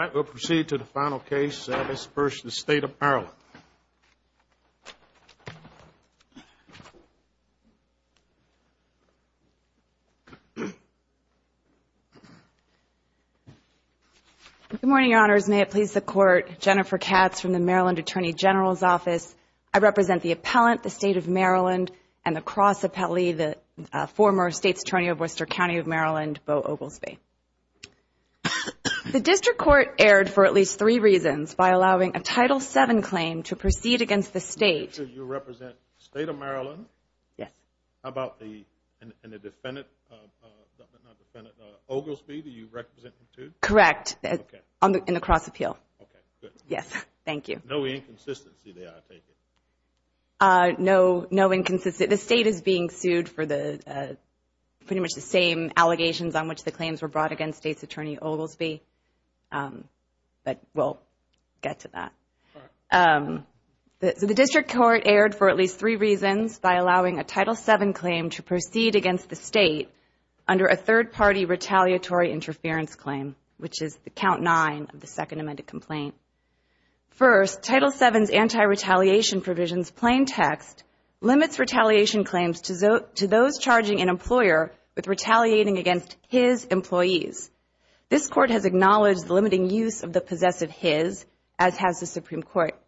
Good morning, Your Honors. May it please the Court, Jennifer Katz from the Maryland Attorney General's Office. I represent the appellant, the State of Maryland, and the State of Maryland Attorney General's Office. And the cross appellee, the former State's Attorney of Worcester County of Maryland, Bo Oglesby. The District Court erred for at least three reasons by allowing a Title VII claim to proceed against the State. You represent the State of Maryland? Yes. How about the defendant, Oglesby, do you represent him too? Correct. Okay. In the cross appeal. Okay, good. Yes. Thank you. No inconsistency there, I take it? No, no inconsistency. The State is being sued for pretty much the same allegations on which the claims were brought against State's Attorney Oglesby. But we'll get to that. The District Court erred for at least three reasons by allowing a Title VII claim to proceed against the State under a third-party retaliatory interference claim, which is the count nine of the Second Amended Complaint. First, Title VII's anti-retaliation provisions plain text limits retaliation claims to those charging an employer with retaliating against his employees. This Court has acknowledged the limiting use of the possessive his, as has the Supreme Court.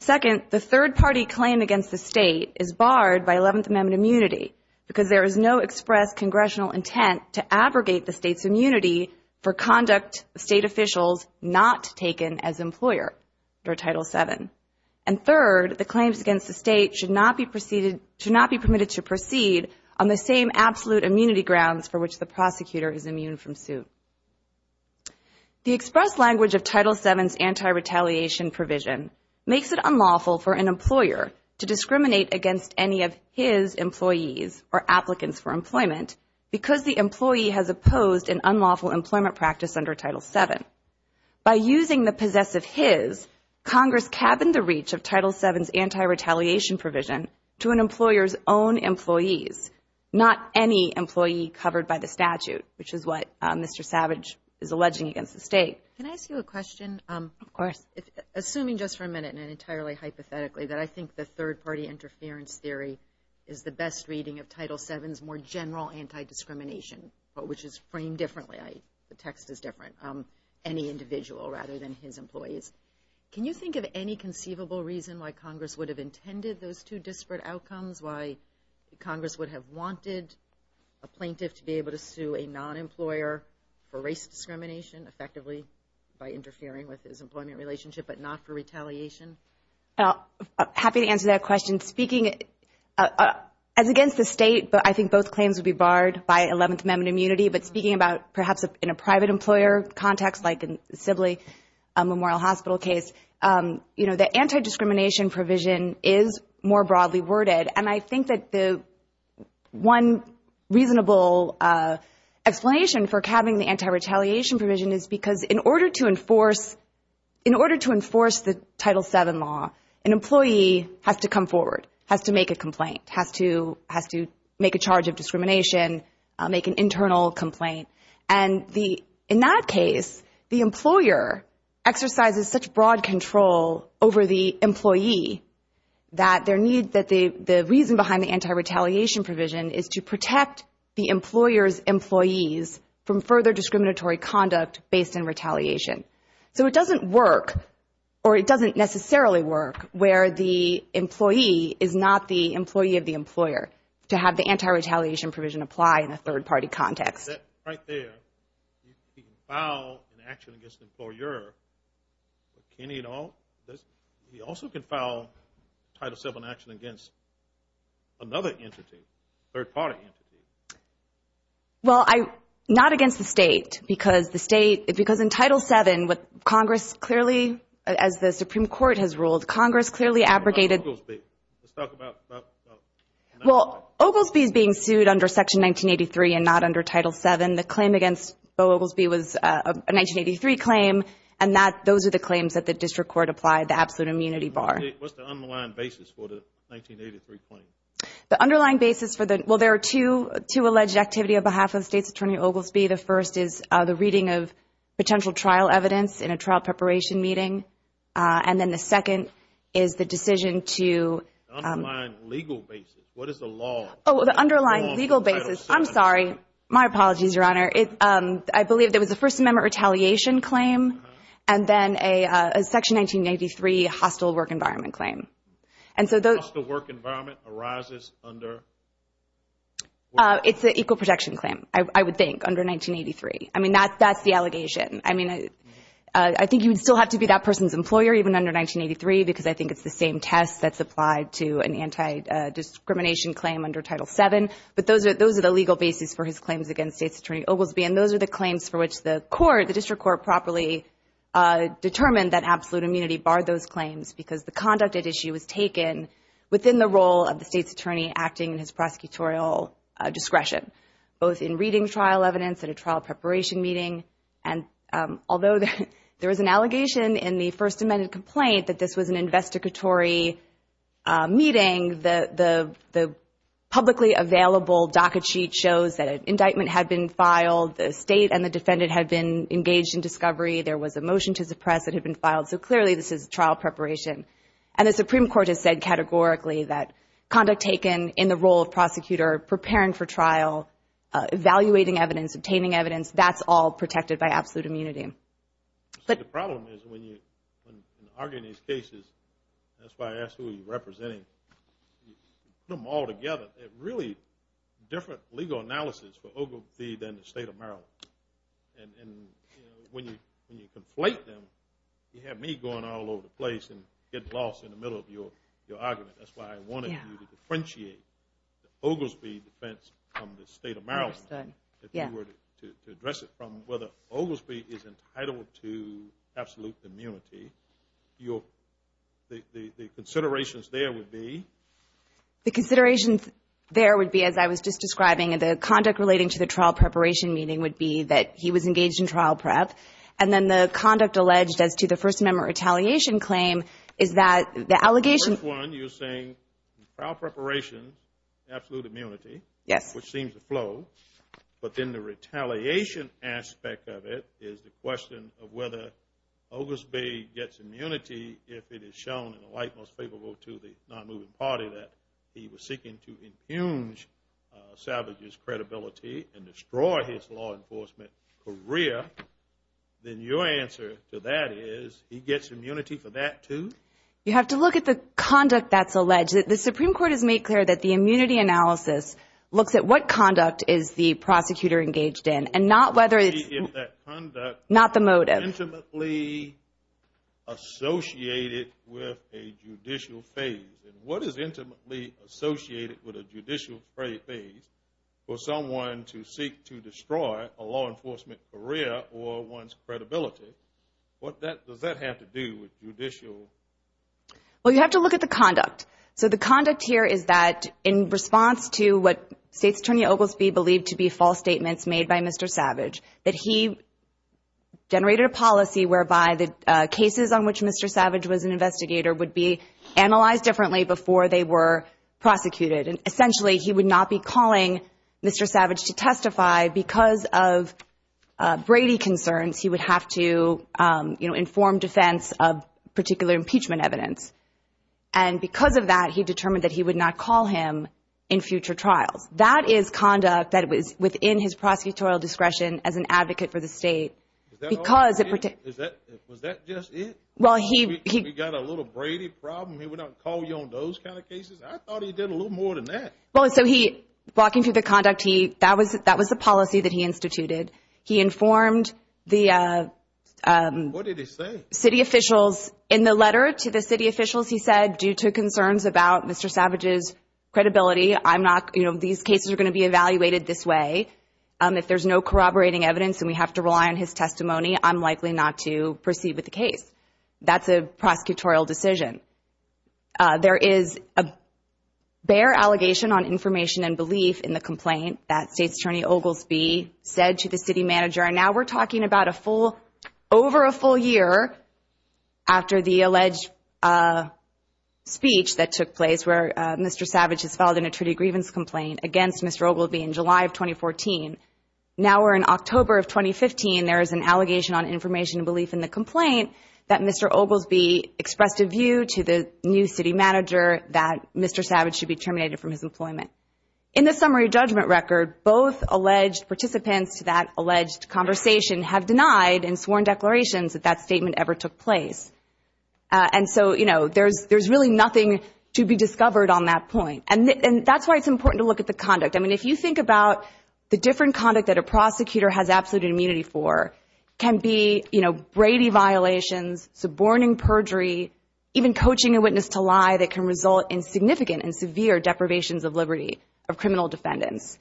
Second, the third-party claim against the State is barred by Eleventh Amendment immunity, because there is no express congressional intent to abrogate the State's immunity for conduct State officials not taken as employer under Title VII. And third, the claims against the State should not be permitted to proceed on the same absolute immunity grounds for which the prosecutor is immune from suit. The express language of Title VII's anti-retaliation provision makes it unlawful for an employer to discriminate against any of his employees or applicants for employment because the employee has opposed an unlawful employment practice under Title VII. By using the possessive his, Congress cabined the reach of Title VII's anti-retaliation provision to an employer's own employees, not any employee covered by the statute, which is what Mr. Savage is alleging against the State. Can I ask you a question? Of course. Assuming just for a minute and entirely hypothetically that I think the third-party interference theory is the best reading of Title VII's more general anti-discrimination, which is framed differently, the text is different, any individual rather than his employees. Can you think of any conceivable reason why Congress would have intended those two disparate outcomes, why Congress would have wanted a plaintiff to be able to sue a non-employer for race discrimination, effectively by interfering with his employment relationship, but not for retaliation? Happy to answer that question. Speaking as against the State, I think both claims would be barred by Eleventh Amendment immunity. But speaking about perhaps in a private employer context like in the Sibley Memorial Hospital case, the anti-discrimination provision is more broadly worded. And I think that the one reasonable explanation for cabbing the anti-retaliation provision is because in order to enforce the Title VII law, an employee has to come forward, has to make a complaint, has to make a charge of discrimination, make an internal complaint. And in that case, the employer exercises such broad control over the employee that the reason behind the anti-retaliation provision is to protect the employer's employees from further discriminatory conduct based on retaliation. So it doesn't work, or it doesn't necessarily work, where the employee is not the employee of the employer, to have the anti-retaliation provision apply in a third-party context. Right there, he can file an action against an employer, but can he at all? He also can file Title VII action against another entity, a third-party entity. Well, not against the State, because in Title VII, what Congress clearly, as the Supreme Court has ruled, Congress clearly abrogated- What about Oglesby? Let's talk about- Well, Oglesby is being sued under Section 1983 and not under Title VII. The claim against Bo Oglesby was a 1983 claim, and those are the claims that the District Court applied, the absolute immunity bar. What's the underlying basis for the 1983 claim? The underlying basis for the-well, there are two alleged activity on behalf of State's Attorney Oglesby. The first is the reading of potential trial evidence in a trial preparation meeting. And then the second is the decision to- The underlying legal basis. What is the law- Oh, the underlying legal basis. I'm sorry. My apologies, Your Honor. I believe there was a First Amendment retaliation claim and then a Section 1993 hostile work environment claim. And so those- Hostile work environment arises under- It's the equal protection claim, I would think, under 1983. I mean, that's the allegation. I mean, I think you would still have to be that person's employer even under 1983 because I think it's the same test that's applied to an anti-discrimination claim under Title VII. But those are the legal basis for his claims against State's Attorney Oglesby. And those are the claims for which the court, the District Court, properly determined that absolute immunity barred those claims because the conduct at issue was taken within the role of the State's Attorney acting in his prosecutorial discretion, both in reading trial evidence at a trial preparation meeting. And although there was an allegation in the First Amendment complaint that this was an investigatory meeting, the publicly available docket sheet shows that an indictment had been filed. The State and the defendant had been engaged in discovery. There was a motion to suppress that had been filed. So clearly this is trial preparation. And the Supreme Court has said categorically that conduct taken in the role of prosecutor preparing for trial, evaluating evidence, obtaining evidence, that's all protected by absolute immunity. But the problem is when you argue these cases, that's why I asked who you're representing. You put them all together. They're really different legal analysis for Oglesby than the State of Maryland. And when you conflate them, you have me going all over the place and getting lost in the middle of your argument. That's why I wanted you to differentiate the Oglesby defense from the State of Maryland. Understood. If you were to address it from whether Oglesby is entitled to absolute immunity, the considerations there would be? The considerations there would be, as I was just describing, the conduct relating to the trial preparation meeting would be that he was engaged in trial prep. And then the conduct alleged as to the first member retaliation claim is that the allegation. The first one, you're saying trial preparation, absolute immunity. Yes. Which seems to flow. But then the retaliation aspect of it is the question of whether Oglesby gets immunity if it is shown in a light most favorable to the non-moving party that he was seeking to impugn salvage his credibility and destroy his law enforcement career. Then your answer to that is he gets immunity for that too? You have to look at the conduct that's alleged. The Supreme Court has made clear that the immunity analysis looks at what conduct is the prosecutor engaged in and not whether it's. Not the motive. Intimately associated with a judicial phase. And what is intimately associated with a judicial phase for someone to seek to destroy a law enforcement career or one's credibility? What does that have to do with judicial? So the conduct here is that in response to what State's attorney Oglesby believed to be false statements made by Mr. Savage, that he generated a policy whereby the cases on which Mr. Savage was an investigator would be analyzed differently before they were prosecuted. And essentially he would not be calling Mr. Savage to testify because of Brady concerns. He would have to inform defense of particular impeachment evidence. And because of that, he determined that he would not call him in future trials. That is conduct that was within his prosecutorial discretion as an advocate for the State. Was that just it? We got a little Brady problem, he would not call you on those kind of cases? I thought he did a little more than that. Walking through the conduct, that was the policy that he instituted. He informed the city officials in the letter to the city officials, he said, due to concerns about Mr. Savage's credibility. I'm not you know, these cases are going to be evaluated this way. If there's no corroborating evidence and we have to rely on his testimony, I'm likely not to proceed with the case. That's a prosecutorial decision. There is a bare allegation on information and belief in the complaint that State's Attorney Oglesby said to the city manager. And now we're talking about a full, over a full year after the alleged speech that took place where Mr. Savage has filed an attorney grievance complaint against Mr. Oglesby in July of 2014. Now we're in October of 2015. There is an allegation on information and belief in the complaint that Mr. Oglesby expressed a view to the new city manager that Mr. Savage should be terminated from his employment. In the summary judgment record, both alleged participants to that alleged conversation have denied and sworn declarations that that statement ever took place. And so you know, there's really nothing to be discovered on that point. And that's why it's important to look at the conduct. I mean, if you think about the different conduct that a prosecutor has absolute immunity for can be, you know, Brady violations, suborning perjury, even coaching a witness to lie that can result in significant and severe deprivations of liberty of criminal defendants.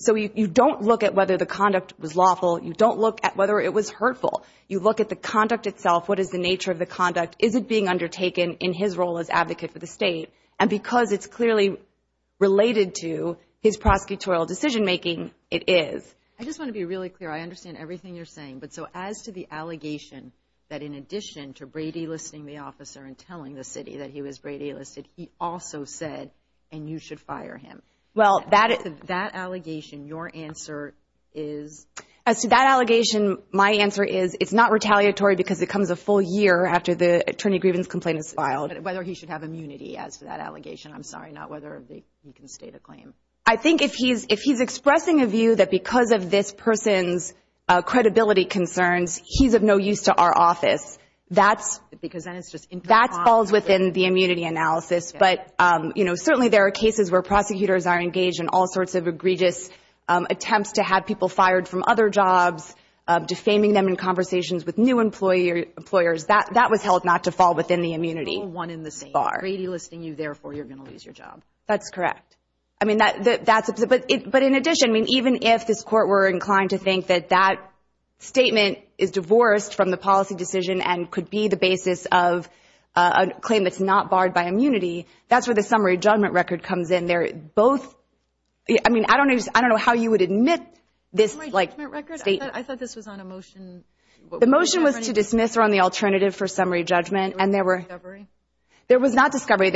So you don't look at whether the conduct was lawful. You don't look at whether it was hurtful. You look at the conduct itself. What is the nature of the conduct? Is it being undertaken in his role as advocate for the state? And because it's clearly related to his prosecutorial decision-making, it is. I just want to be really clear. I understand everything you're saying. But so as to the allegation that in addition to Brady listing the officer and telling the city that he was Brady listed, he also said, and you should fire him. Well, that allegation, your answer is? As to that allegation, my answer is it's not retaliatory because it comes a full year after the attorney grievance complaint is filed. Whether he should have immunity as to that allegation. I'm sorry, not whether he can state a claim. I think if he's expressing a view that because of this person's credibility concerns, he's of no use to our office, that's falls within the immunity analysis. But, you know, certainly there are cases where prosecutors are engaged in all sorts of egregious attempts to have people fired from other jobs, defaming them in conversations with new employers. That was held not to fall within the immunity. All one in the same. Brady listing you, therefore you're going to lose your job. That's correct. But in addition, even if this court were inclined to think that that statement is divorced from the policy decision and could be the basis of a claim that's not barred by immunity, that's where the summary judgment record comes in. I don't know how you would admit this. Summary judgment record? I thought this was on a motion. The motion was to dismiss or on the alternative for summary judgment. There was not discovery. There was not discovery.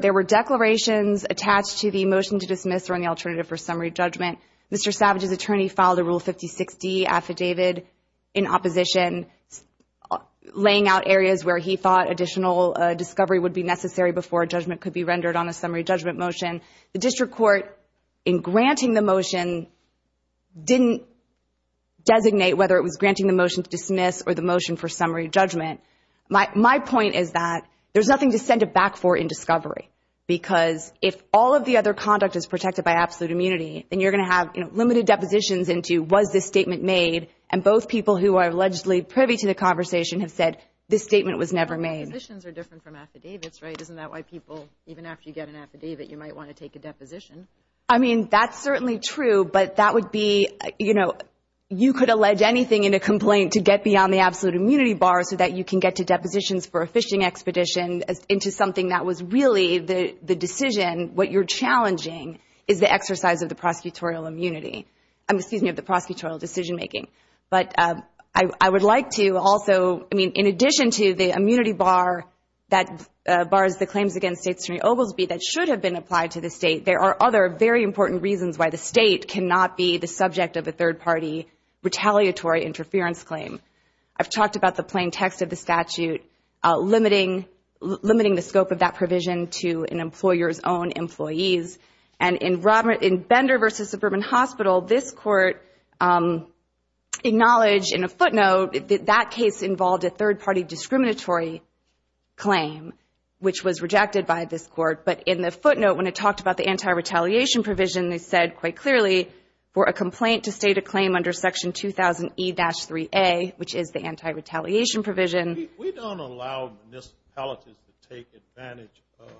There were declarations attached to the motion to dismiss or on the alternative for summary judgment. Mr. Savage's attorney filed a Rule 56D affidavit in opposition, laying out areas where he thought additional discovery would be necessary before a judgment could be rendered on a summary judgment motion. The district court, in granting the motion, didn't designate whether it was granting the motion to dismiss or the motion for summary judgment. My point is that there's nothing to send it back for in discovery, because if all of the other conduct is protected by absolute immunity, then you're going to have limited depositions into was this statement made, and both people who are allegedly privy to the conversation have said this statement was never made. Depositions are different from affidavits, right? Isn't that why people, even after you get an affidavit, you might want to take a deposition? I mean, that's certainly true, but that would be, you know, you could allege anything in a complaint to get beyond the absolute immunity bar so that you can get to depositions for a fishing expedition into something that was really the decision. What you're challenging is the exercise of the prosecutorial immunity. Excuse me, of the prosecutorial decision making. But I would like to also, I mean, in addition to the immunity bar that bars the claims against States Attorney Oglesby that should have been applied to the state, there are other very important reasons why the state cannot be the subject of a third party retaliatory interference claim. I've talked about the plain text of the statute limiting the scope of that provision to an employer's own employees. And in Bender v. Suburban Hospital, this court acknowledged in a footnote that that case involved a third party discriminatory claim, which was rejected by this court. But in the footnote, when it talked about the anti-retaliation provision, they said quite clearly for a complaint to state a claim under Section 2000E-3A, which is the anti-retaliation provision. We don't allow municipalities to take advantage of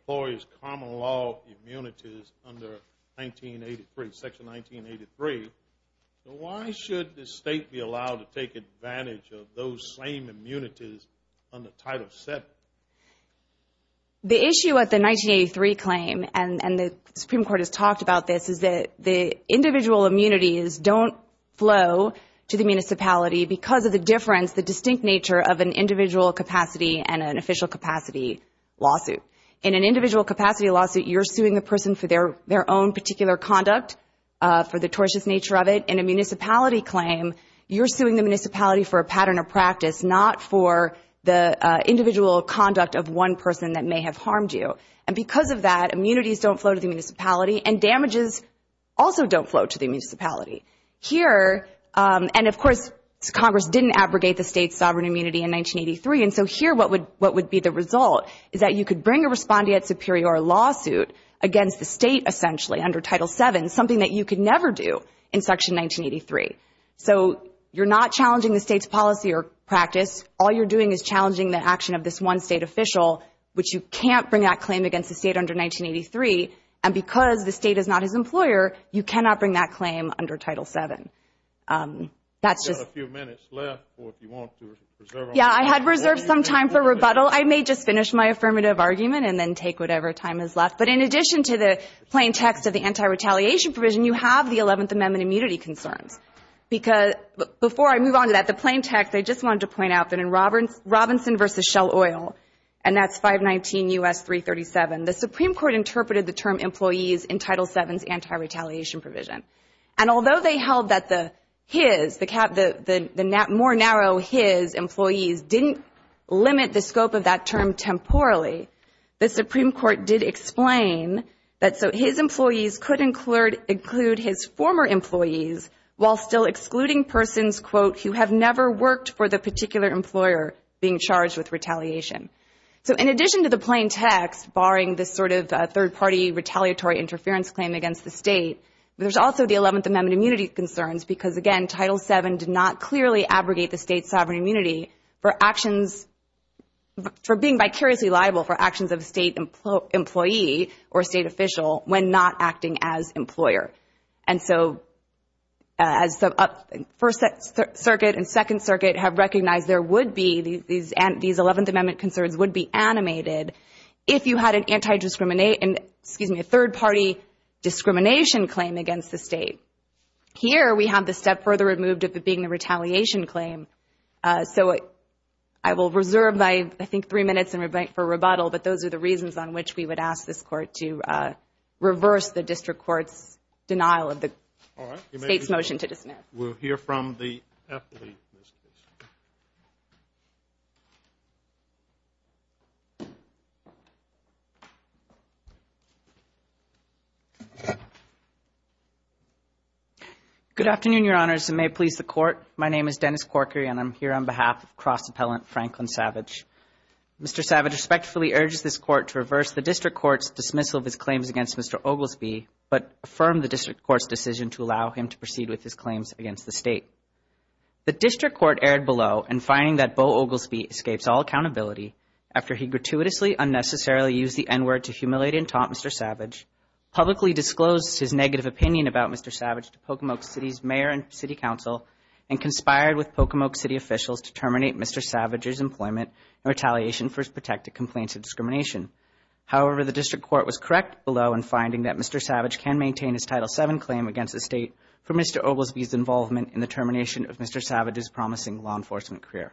employees' common law immunities under Section 1983. Why should the state be allowed to take advantage of those same immunities under Title VII? The issue with the 1983 claim, and the Supreme Court has talked about this, is that the individual immunities don't flow to the municipality because of the difference, the distinct nature of an individual capacity and an official capacity lawsuit. In an individual capacity lawsuit, you're suing a person for their own particular conduct, for the tortious nature of it. In a municipality claim, you're suing the municipality for a pattern of practice, not for the individual conduct of one person that may have harmed you. And because of that, immunities don't flow to the municipality, and damages also don't flow to the municipality. Here, and of course, Congress didn't abrogate the state's sovereign immunity in 1983, and so here what would be the result is that you could bring a respondeat superior lawsuit against the state, essentially, under Title VII, something that you could never do in Section 1983. So you're not challenging the state's policy or practice. All you're doing is challenging the action of this one state official, which you can't bring that claim against the state under 1983, and because the state is not his employer, you cannot bring that claim under Title VII. That's just – We've got a few minutes left, or if you want to reserve – Yeah, I had reserved some time for rebuttal. I may just finish my affirmative argument and then take whatever time is left. But in addition to the plain text of the anti-retaliation provision, you have the 11th Amendment immunity concerns. Before I move on to that, the plain text, I just wanted to point out that in Robinson v. Shell Oil, and that's 519 U.S. 337, the Supreme Court interpreted the term employees in Title VII's anti-retaliation provision. And although they held that the his, the more narrow his employees didn't limit the scope of that term temporally, the Supreme Court did explain that so his employees could include his former employees while still excluding persons, quote, who have never worked for the particular employer being charged with retaliation. So in addition to the plain text, barring this sort of third-party retaliatory interference claim against the state, there's also the 11th Amendment immunity concerns because, again, Title VII did not clearly abrogate the state's sovereign immunity for actions – for being vicariously liable for actions of a state employee or a state official when not acting as employer. And so as the First Circuit and Second Circuit have recognized there would be – these 11th Amendment concerns would be animated if you had an anti-discriminate – excuse me, a third-party discrimination claim against the state. Here we have the step further removed of it being a retaliation claim. So I will reserve my, I think, three minutes for rebuttal, but those are the reasons on which we would ask this Court to reverse the district court's denial of the state's motion to dismiss. We'll hear from the athlete. Good afternoon, Your Honors, and may it please the Court. My name is Dennis Corkery, and I'm here on behalf of Cross Appellant Franklin Savage. Mr. Savage respectfully urges this Court to reverse the district court's dismissal of his claims against Mr. Oglesby, but affirm the district court's decision to allow him to proceed with his claims against the state. The district court erred below in finding that Bo Oglesby escapes all accountability after he gratuitously unnecessarily used the N-word to humiliate and taunt Mr. Savage, publicly disclosed his negative opinion about Mr. Savage to Pocomoke City's mayor and city council, and conspired with Pocomoke City officials to terminate Mr. Savage's employment in retaliation for his protected complaints of discrimination. However, the district court was correct below in finding that Mr. Savage can maintain his Title VII claim against the state for Mr. Oglesby's involvement in the termination of Mr. Savage's promising law enforcement career.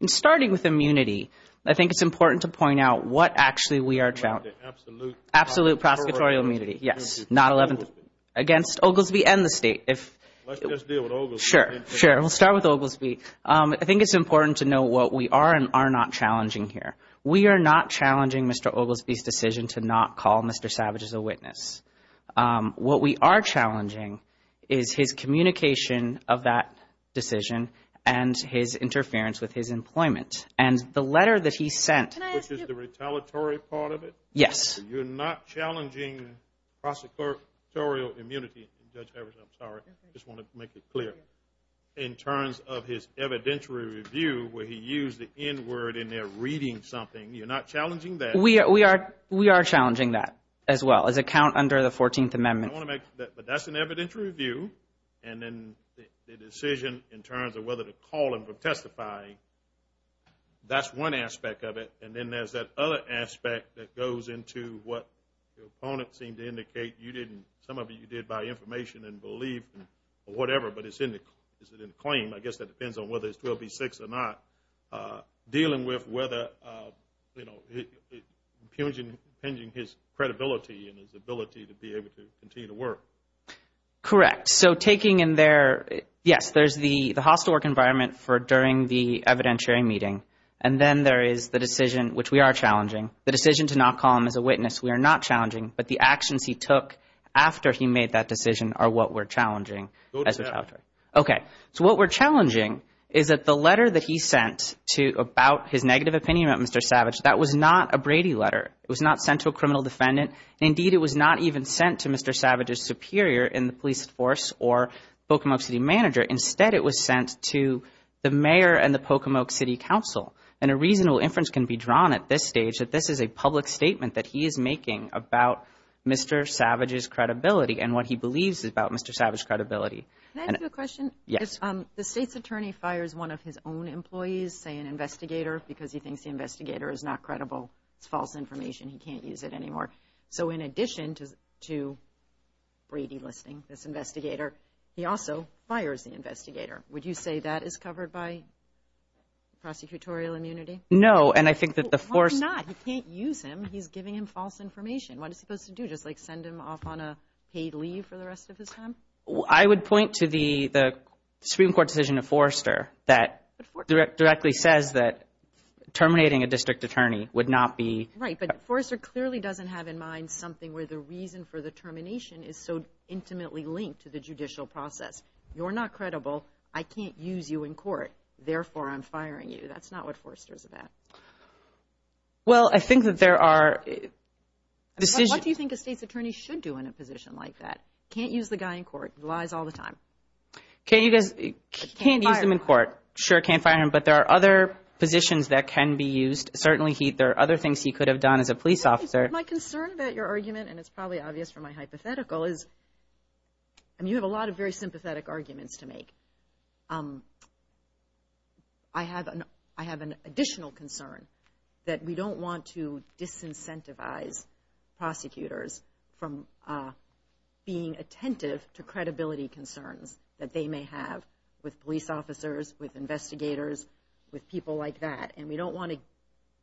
In starting with immunity, I think it's important to point out what actually we are challenging. Absolute prosecutorial immunity, yes. Not 11th against Oglesby and the state. Let's just deal with Oglesby. Sure, sure. We'll start with Oglesby. I think it's important to note what we are and are not challenging here. We are not challenging Mr. Oglesby's decision to not call Mr. Savage as a witness. What we are challenging is his communication of that decision and his interference with his employment. And the letter that he sent. Which is the retaliatory part of it? Yes. You're not challenging prosecutorial immunity. Judge Evers, I'm sorry, I just want to make it clear. In terms of his evidentiary review where he used the N word in there reading something. You're not challenging that? We are challenging that as well as a count under the 14th Amendment. I want to make, but that's an evidentiary review. And then the decision in terms of whether to call him for testifying. That's one aspect of it. And then there's that other aspect that goes into what the opponent seemed to indicate. You didn't, some of you did by information and believe or whatever. But it's in the claim. I guess that depends on whether it's 12B6 or not. Dealing with whether, you know, impinging his credibility and his ability to be able to continue to work. Correct. So taking in their, yes, there's the hostile work environment for during the evidentiary meeting. And then there is the decision, which we are challenging. The decision to not call him as a witness we are not challenging. But the actions he took after he made that decision are what we're challenging. Go to that. Okay. So what we're challenging is that the letter that he sent about his negative opinion about Mr. Savage. That was not a Brady letter. It was not sent to a criminal defendant. Indeed, it was not even sent to Mr. Savage's superior in the police force or Pocomoke City manager. Instead, it was sent to the mayor and the Pocomoke City Council. And a reasonable inference can be drawn at this stage that this is a public statement that he is making about Mr. Savage's credibility and what he believes about Mr. Savage's credibility. Can I ask you a question? Yes. If the state's attorney fires one of his own employees, say an investigator, because he thinks the investigator is not credible, it's false information, he can't use it anymore. So in addition to Brady listening, this investigator, he also fires the investigator. Would you say that is covered by prosecutorial immunity? No, and I think that the force— Why not? He can't use him. He's giving him false information. What is he supposed to do? Just, like, send him off on a paid leave for the rest of his time? I would point to the Supreme Court decision of Forrester that directly says that terminating a district attorney would not be— Right, but Forrester clearly doesn't have in mind something where the reason for the termination is so intimately linked to the judicial process. You're not credible. I can't use you in court. Therefore, I'm firing you. That's not what Forrester's about. Well, I think that there are decisions— What do you think a state's attorney should do in a position like that? Can't use the guy in court. Lies all the time. Can't use him in court. Sure, can't fire him, but there are other positions that can be used. Certainly, there are other things he could have done as a police officer. My concern about your argument, and it's probably obvious from my hypothetical, is you have a lot of very sympathetic arguments to make. I have an additional concern that we don't want to disincentivize prosecutors from being attentive to credibility concerns that they may have with police officers, with investigators, with people like that. And we don't want to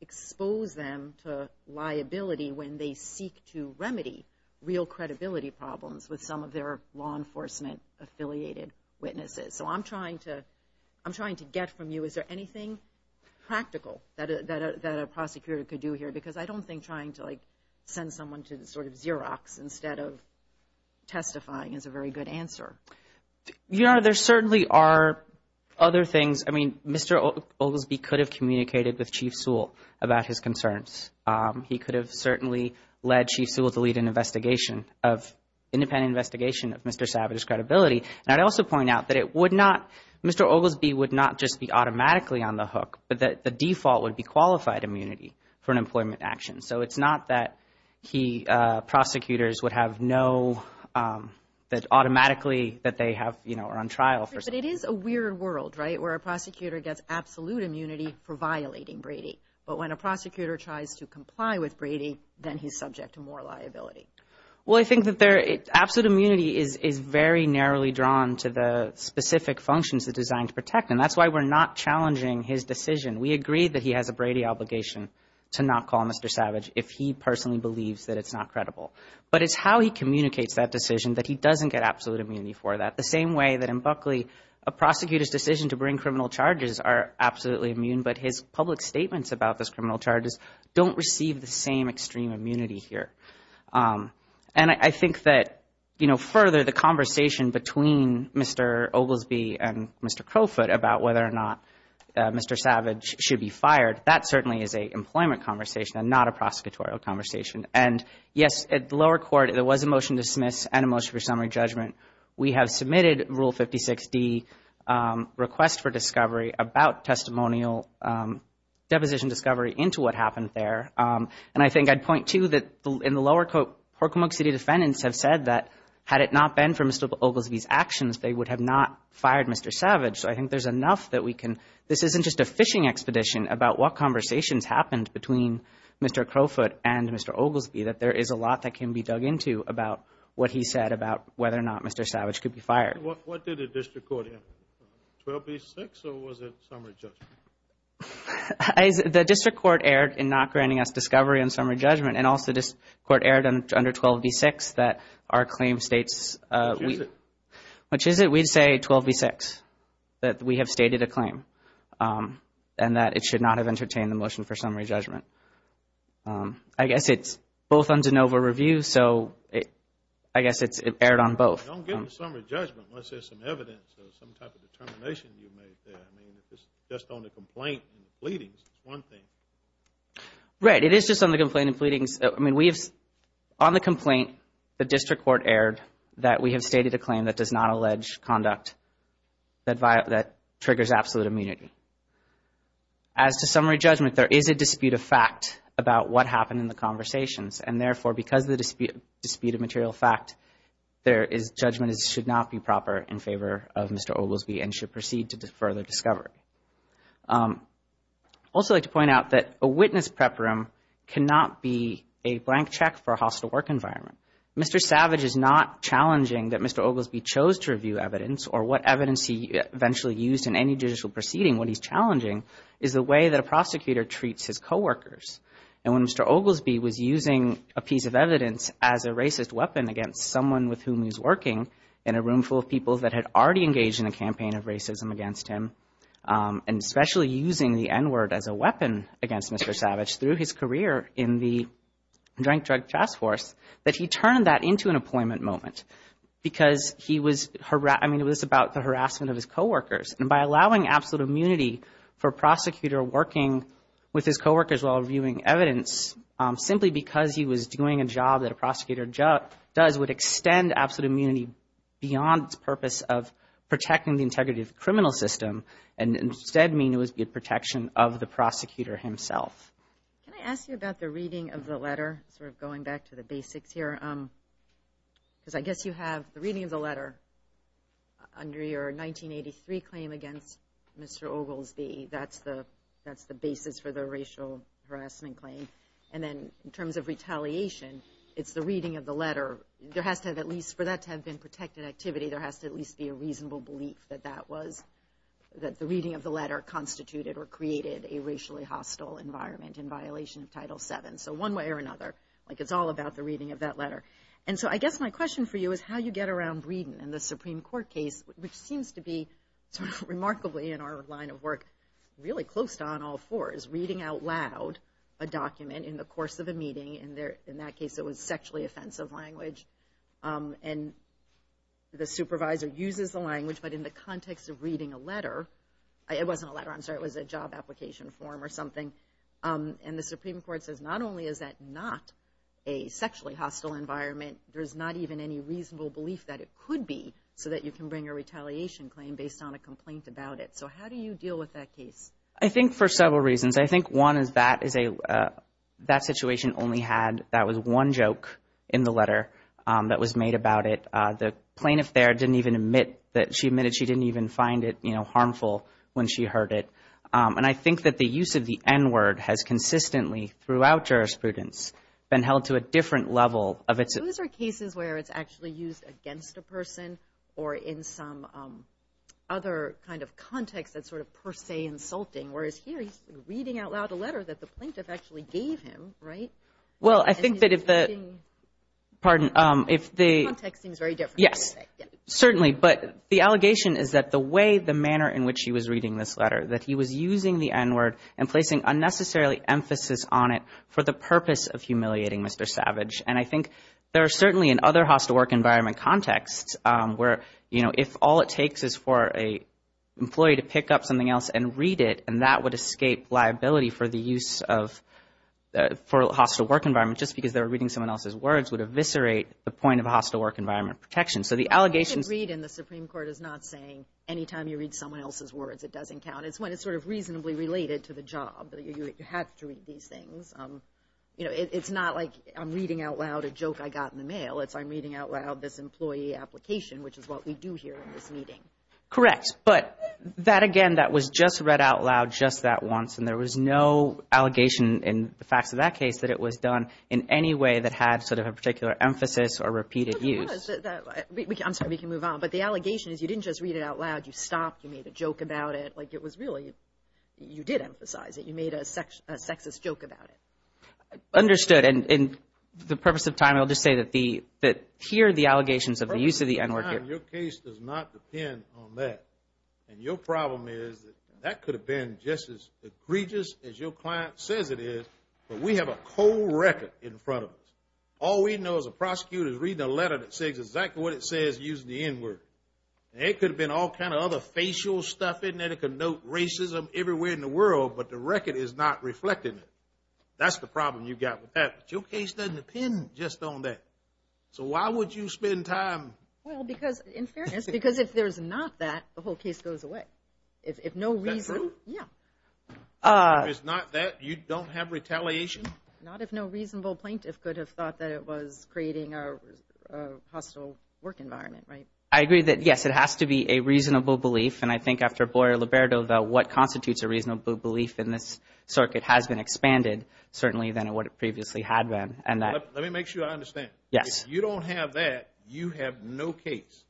expose them to liability when they seek to remedy real credibility problems with some of their law enforcement-affiliated witnesses. So I'm trying to get from you, is there anything practical that a prosecutor could do here? Because I don't think trying to send someone to Xerox instead of testifying is a very good answer. There certainly are other things. I mean, Mr. Oglesby could have communicated with Chief Sewell about his concerns. He could have certainly led Chief Sewell to lead an independent investigation of Mr. Savage's credibility. And I'd also point out that Mr. Oglesby would not just be automatically on the hook, but that the default would be qualified immunity for an employment action. So it's not that prosecutors would have no automatically that they are on trial. But it is a weird world, right, where a prosecutor gets absolute immunity for violating Brady. But when a prosecutor tries to comply with Brady, then he's subject to more liability. Well, I think that absolute immunity is very narrowly drawn to the specific functions it's designed to protect. And that's why we're not challenging his decision. We agree that he has a Brady obligation to not call Mr. Savage if he personally believes that it's not credible. But it's how he communicates that decision that he doesn't get absolute immunity for that. The same way that in Buckley a prosecutor's decision to bring criminal charges are absolutely immune, but his public statements about those criminal charges don't receive the same extreme immunity here. And I think that further the conversation between Mr. Oglesby and Mr. Crowfoot about whether or not Mr. Savage should be fired, that certainly is an employment conversation and not a prosecutorial conversation. And, yes, at the lower court there was a motion to dismiss and a motion for summary judgment. We have submitted Rule 56D, Request for Discovery, about testimonial deposition discovery into what happened there. And I think I'd point, too, that in the lower court, Horkamuk City defendants have said that had it not been for Mr. Oglesby's actions, they would have not fired Mr. Savage. So I think there's enough that we can – this isn't just a fishing expedition about what conversations happened between Mr. Crowfoot and Mr. Oglesby, that there is a lot that can be dug into about what he said about whether or not Mr. Savage could be fired. What did the district court hear? 12B6 or was it summary judgment? The district court erred in not granting us discovery on summary judgment and also the district court erred under 12B6 that our claim states – Which is it? Which is it? We'd say 12B6, that we have stated a claim and that it should not have entertained the motion for summary judgment. I guess it's both on DeNova Review, so I guess it erred on both. Don't get into summary judgment unless there's some evidence or some type of determination you made there. I mean, if it's just on the complaint and the pleadings, it's one thing. Right, it is just on the complaint and pleadings. I mean, we have – on the complaint, the district court erred that we have stated a claim that does not allege conduct that triggers absolute immunity. As to summary judgment, there is a dispute of fact about what happened in the conversations, and therefore because of the dispute of material fact, there is – judgment should not be proper in favor of Mr. Oglesby and should proceed to further discovery. I'd also like to point out that a witness prep room cannot be a blank check for a hostile work environment. Mr. Savage is not challenging that Mr. Oglesby chose to review evidence or what evidence he eventually used in any judicial proceeding. What he's challenging is the way that a prosecutor treats his coworkers. And when Mr. Oglesby was using a piece of evidence as a racist weapon against someone with whom he was working in a room full of people that had already engaged in a campaign of racism against him, and especially using the N-word as a weapon against Mr. Savage through his career in the joint drug task force, that he turned that into an employment moment because he was – I mean, it was about the harassment of his coworkers. And by allowing absolute immunity for a prosecutor working with his coworkers while reviewing evidence, simply because he was doing a job that a prosecutor does would extend absolute immunity beyond its purpose of protecting the integrity of the criminal system and instead mean it would be a protection of the prosecutor himself. Can I ask you about the reading of the letter, sort of going back to the basics here? Because I guess you have the reading of the letter under your 1983 claim against Mr. Oglesby. That's the basis for the racial harassment claim. And then in terms of retaliation, it's the reading of the letter. There has to have at least – for that to have been protected activity, there has to at least be a reasonable belief that that was – that the reading of the letter constituted or created a racially hostile environment in violation of Title VII. So one way or another, it's all about the reading of that letter. And so I guess my question for you is how you get around reading in the Supreme Court case, which seems to be sort of remarkably in our line of work, really close to on all fours, reading out loud a document in the course of a meeting. In that case, it was sexually offensive language. And the supervisor uses the language, but in the context of reading a letter – it wasn't a letter, I'm sorry. It was a job application form or something. And the Supreme Court says not only is that not a sexually hostile environment, there's not even any reasonable belief that it could be so that you can bring a retaliation claim based on a complaint about it. So how do you deal with that case? I think for several reasons. I think one is that is a – that situation only had – that was one joke in the letter that was made about it. The plaintiff there didn't even admit that – she admitted she didn't even find it harmful when she heard it. And I think that the use of the N-word has consistently, throughout jurisprudence, been held to a different level of its – Those are cases where it's actually used against a person or in some other kind of context that's sort of per se insulting, whereas here he's reading out loud a letter that the plaintiff actually gave him, right? Well, I think that if the – The context seems very different. Yes, certainly. But the allegation is that the way, the manner in which he was reading this letter, that he was using the N-word and placing unnecessarily emphasis on it for the purpose of humiliating Mr. Savage. And I think there are certainly in other hostile work environment contexts where, you know, if all it takes is for an employee to pick up something else and read it, and that would escape liability for the use of – for a hostile work environment just because they were reading someone else's words would eviscerate the point of hostile work environment protection. So the allegation – But you can read and the Supreme Court is not saying anytime you read someone else's words it doesn't count. It's when it's sort of reasonably related to the job. You have to read these things. You know, it's not like I'm reading out loud a joke I got in the mail. It's I'm reading out loud this employee application, which is what we do here in this meeting. Correct. But that, again, that was just read out loud just that once, and there was no allegation in the facts of that case that it was done in any way that had sort of a particular emphasis or repeated use. I'm sorry, we can move on. But the allegation is you didn't just read it out loud. You stopped. You made a joke about it. Like it was really – you did emphasize it. You made a sexist joke about it. Understood. And for the purpose of time, I'll just say that the – that here the allegations of the use of the N-word – For the purpose of time, your case does not depend on that. And your problem is that that could have been just as egregious as your client says it is, but we have a cold record in front of us. All we know as a prosecutor is reading a letter that says exactly what it says using the N-word. It could have been all kind of other facial stuff in there that could note racism everywhere in the world, but the record is not reflecting it. That's the problem you've got with that. But your case doesn't depend just on that. So why would you spend time – Well, because, in fairness, because if there's not that, the whole case goes away. If no reason – That's true? Yeah. If it's not that, you don't have retaliation? Not if no reasonable plaintiff could have thought that it was creating a hostile work environment, right? I agree that, yes, it has to be a reasonable belief, and I think after Boyer-Liberto, what constitutes a reasonable belief in this circuit has been expanded, certainly, than what it previously had been. Let me make sure I understand. Yes. If you don't have that, you have no case?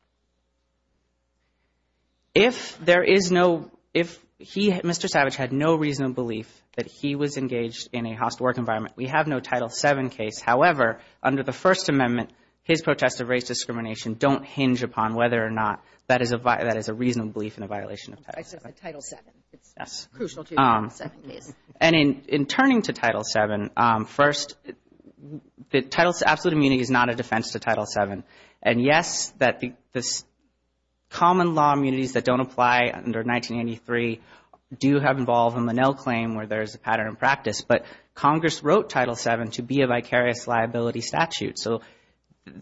If there is no – if Mr. Savage had no reasonable belief that he was engaged in a hostile work environment, we have no Title VII case. However, under the First Amendment, his protests of race discrimination don't hinge upon whether or not that is a reasonable belief in a violation of Title VII. I said Title VII. Yes. Crucial to Title VII case. And in turning to Title VII, first, absolute immunity is not a defense to Title VII. And, yes, the common law immunities that don't apply under 1983 do have involved in the Nell claim where there is a pattern in practice. But Congress wrote Title VII to be a vicarious liability statute. So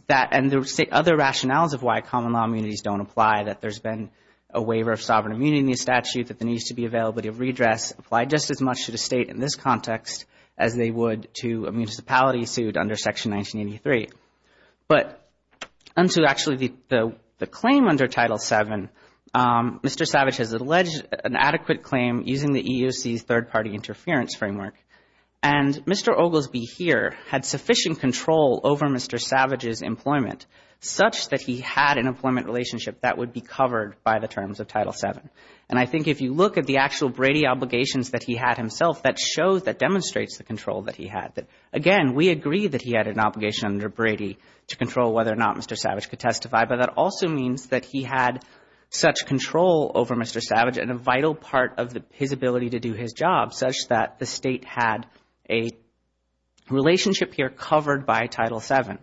that – and there are other rationales of why common law immunities don't apply, that there's been a waiver of sovereign immunity in the statute, that there needs to be availability of redress, apply just as much to the state in this context as they would to a municipality sued under Section 1983. But – and so, actually, the claim under Title VII, Mr. Savage has alleged an adequate claim using the EEOC's third-party interference framework. And Mr. Oglesby here had sufficient control over Mr. Savage's employment, such that he had an employment relationship that would be covered by the terms of Title VII. And I think if you look at the actual Brady obligations that he had himself, that shows, that demonstrates the control that he had. Again, we agree that he had an obligation under Brady to control whether or not Mr. Savage could testify, but that also means that he had such control over Mr. Savage and a vital part of his ability to do his job such that the state had a relationship here covered by Title VII.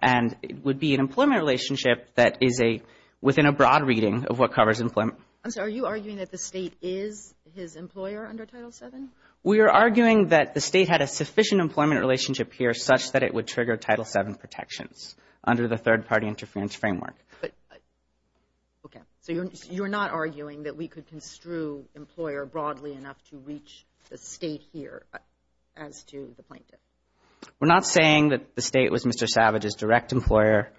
And it would be an employment relationship that is a – within a broad reading of what covers employment. And so are you arguing that the state is his employer under Title VII? We are arguing that the state had a sufficient employment relationship here such that it would trigger Title VII protections under the third-party interference framework. Okay. So you're not arguing that we could construe employer broadly enough to reach the state here as to the plaintiff? We're not saying that the state was Mr. Savage's direct employer.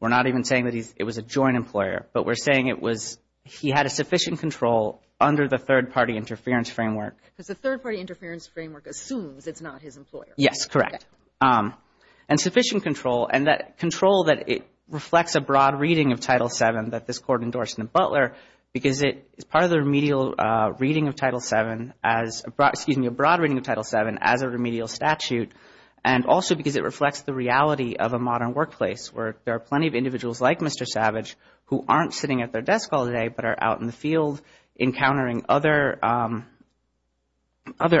We're not even saying that it was a joint employer. But we're saying it was – he had a sufficient control under the third-party interference framework. Because the third-party interference framework assumes it's not his employer. Yes, correct. And sufficient control. And that control that it reflects a broad reading of Title VII that this Court endorsed in the Butler because it is part of the remedial reading of Title VII as – excuse me, a broad reading of Title VII as a remedial statute and also because it reflects the reality of a modern workplace where there are plenty of individuals like Mr. Savage who aren't sitting at their desk all day but are out in the field encountering other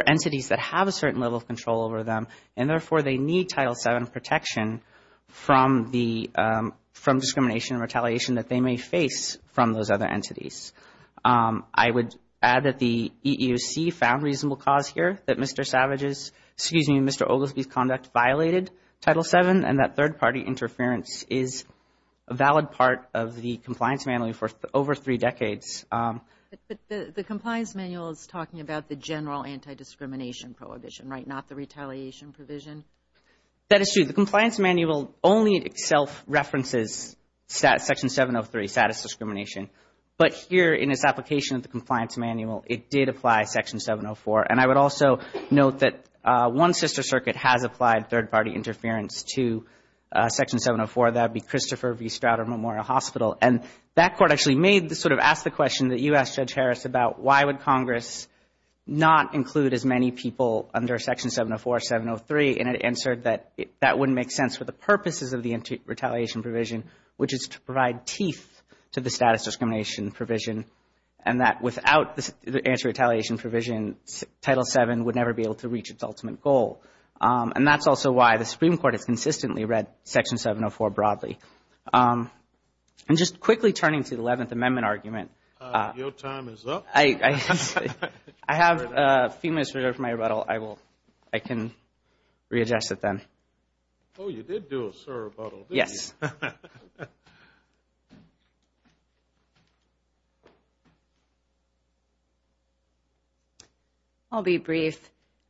entities that have a certain level of control over them. And therefore, they need Title VII protection from the – from discrimination and retaliation that they may face from those other entities. I would add that the EEOC found reasonable cause here that Mr. Savage's – excuse me, Mr. Ogilvie's conduct violated Title VII and that third-party interference is a valid part of the compliance manual for over three decades. But the compliance manual is talking about the general anti-discrimination prohibition, right, not the retaliation provision? That is true. The compliance manual only self-references Section 703, status discrimination. But here in its application of the compliance manual, it did apply Section 704. And I would also note that one sister circuit has applied third-party interference to Section 704. That would be Christopher v. Strouder Memorial Hospital. And that Court actually made the – sort of asked the question that you asked, Judge Harris, about why would Congress not include as many people under Section 704, 703. And it answered that that wouldn't make sense for the purposes of the retaliation provision, which is to provide teeth to the status discrimination provision, and that without the anti-retaliation provision, Title VII would never be able to reach its ultimate goal. And that's also why the Supreme Court has consistently read Section 704 broadly. And just quickly turning to the Eleventh Amendment argument. Your time is up. I have a few minutes for my rebuttal. I can readjust it then. Oh, you did do a sir rebuttal, didn't you? Yes. I'll be brief.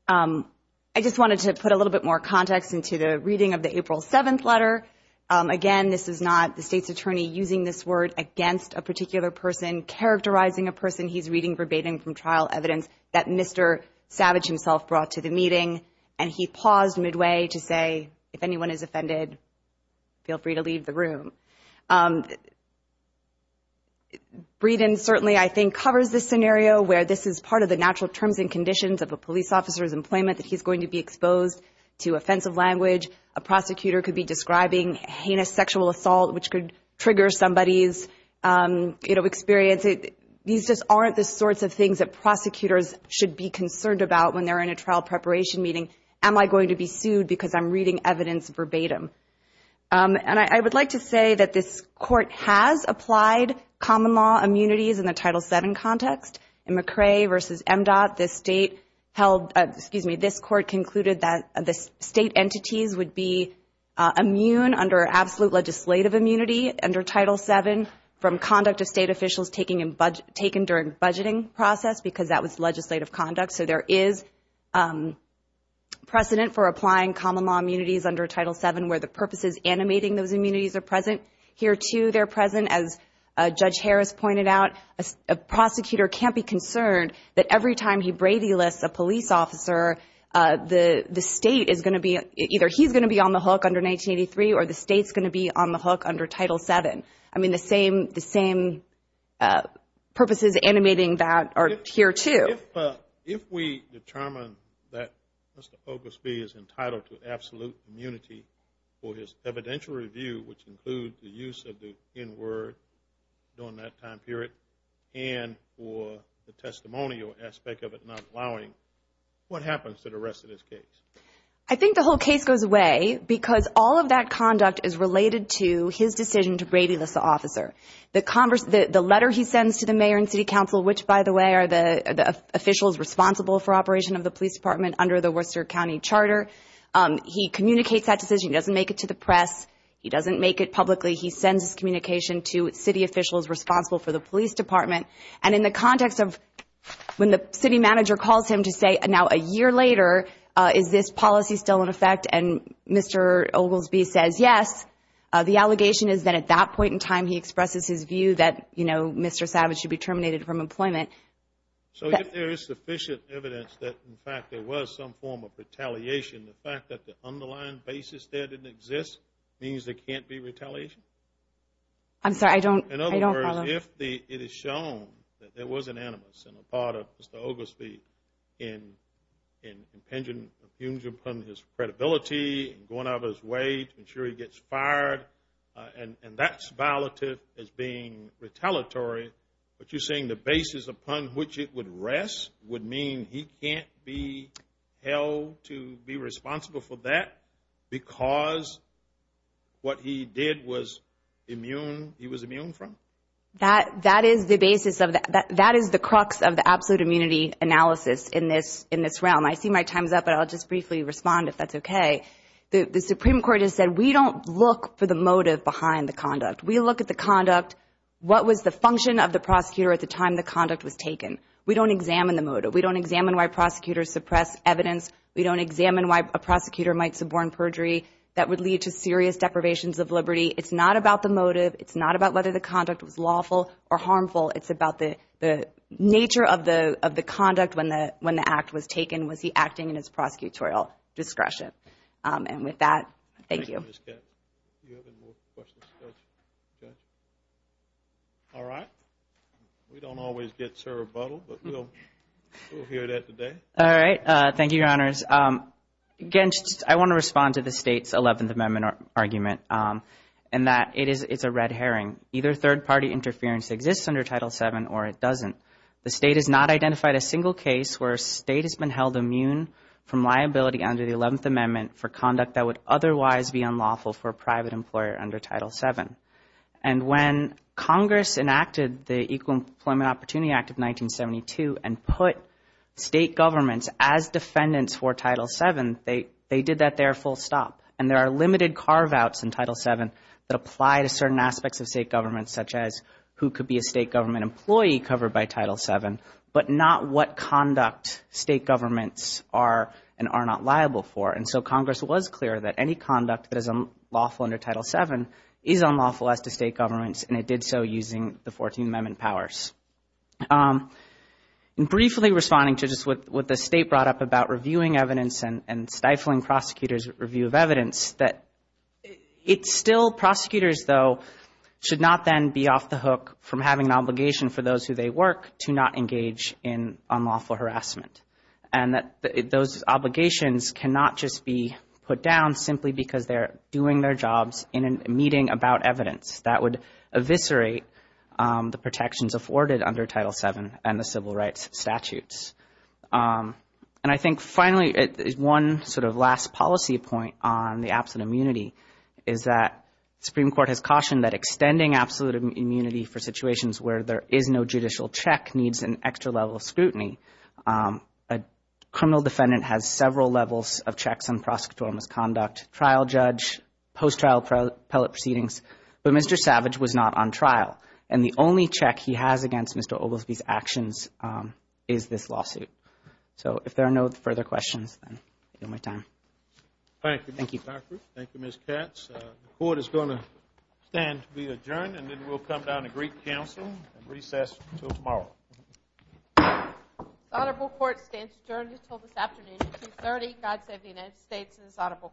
I just wanted to put a little bit more context into the reading of the April 7th letter. Again, this is not the State's attorney using this word against a particular person, characterizing a person he's reading verbatim from trial evidence that Mr. Savage himself brought to the meeting, and he paused midway to say, if anyone is offended, feel free to leave the room. Breeden certainly, I think, covers this scenario, where this is part of the natural terms and conditions of a police officer's employment, that he's going to be exposed to offensive language. A prosecutor could be describing heinous sexual assault, which could trigger somebody's experience. These just aren't the sorts of things that prosecutors should be concerned about when they're in a trial preparation meeting. Am I going to be sued because I'm reading evidence verbatim? And I would like to say that this Court has applied common law immunities in the Title VII context. In McRae v. MDOT, this Court concluded that the State entities would be immune under absolute legislative immunity under Title VII from conduct of State officials taken during budgeting process, because that was legislative conduct. So there is precedent for applying common law immunities under Title VII, where the purposes animating those immunities are present. Here, too, they're present. Again, as Judge Harris pointed out, a prosecutor can't be concerned that every time he Brady lists a police officer, the State is going to be – either he's going to be on the hook under 1983, or the State's going to be on the hook under Title VII. I mean, the same purposes animating that are here, too. If we determine that Mr. Oglesby is entitled to absolute immunity for his evidential review, which includes the use of the N-word during that time period, and for the testimonial aspect of it not allowing, what happens to the rest of this case? I think the whole case goes away because all of that conduct is related to his decision to Brady list the officer. The letter he sends to the Mayor and City Council, which, by the way, are the officials responsible for operation of the Police Department under the Worcester County Charter, he communicates that decision. He doesn't make it to the press. He doesn't make it publicly. He sends his communication to city officials responsible for the Police Department. And in the context of when the city manager calls him to say, now, a year later, is this policy still in effect? And Mr. Oglesby says, yes. The allegation is that at that point in time he expresses his view that, you know, Mr. Savage should be terminated from employment. So if there is sufficient evidence that, in fact, there was some form of retaliation, the fact that the underlying basis there didn't exist means there can't be retaliation? I'm sorry, I don't follow. In other words, if it is shown that there was an animus and a part of Mr. Oglesby in impinging upon his credibility and going out of his way to ensure he gets fired, and that's violative as being retaliatory, but you're saying the basis upon which it would rest would mean he can't be held to be responsible for that because what he did was immune, he was immune from? That is the basis of the, that is the crux of the absolute immunity analysis in this realm. I see my time's up, but I'll just briefly respond if that's okay. The Supreme Court has said we don't look for the motive behind the conduct. We look at the conduct, what was the function of the prosecutor at the time the conduct was taken. We don't examine the motive. We don't examine why prosecutors suppress evidence. We don't examine why a prosecutor might suborn perjury that would lead to serious deprivations of liberty. It's not about the motive. It's not about whether the conduct was lawful or harmful. It's about the nature of the conduct when the act was taken. Was he acting in his prosecutorial discretion? And with that, thank you. You have any more questions? All right. We don't always get sir rebuttal, but we'll hear that today. All right. Thank you, Your Honors. Again, I want to respond to the State's 11th Amendment argument in that it's a red herring. Either third-party interference exists under Title VII or it doesn't. The State has not identified a single case where a State has been held immune from liability under the 11th Amendment for conduct that would otherwise be unlawful for a private employer under Title VII. And when Congress enacted the Equal Employment Opportunity Act of 1972 and put State governments as defendants for Title VII, they did that there full stop. And there are limited carve-outs in Title VII that apply to certain aspects of State government, such as who could be a State government employee covered by Title VII, but not what conduct State governments are and are not liable for. And so Congress was clear that any conduct that is unlawful under Title VII is unlawful as to State governments, and it did so using the 14th Amendment powers. Briefly responding to just what the State brought up about reviewing evidence and stifling prosecutors' review of evidence, that it's still prosecutors, though, should not then be off the hook from having an obligation for those who they work to not engage in unlawful harassment. And those obligations cannot just be put down simply because they're doing their jobs in a meeting about evidence. That would eviscerate the protections afforded under Title VII and the civil rights statutes. And I think, finally, one sort of last policy point on the absolute immunity is that Supreme Court has cautioned that extending absolute immunity for situations where there is no judicial check needs an extra level of scrutiny. A criminal defendant has several levels of checks on prosecutorial misconduct, trial judge, post-trial appellate proceedings, but Mr. Savage was not on trial. And the only check he has against Mr. Oglesby's actions is this lawsuit. So if there are no further questions, I'll give you more time. Thank you, Mr. Cochran. Thank you, Ms. Katz. The Court is going to stand to be adjourned, and then we'll come down to Greek Council and recess until tomorrow. The Court stands adjourned until this afternoon at 2.30. God save the United States and this audible Court.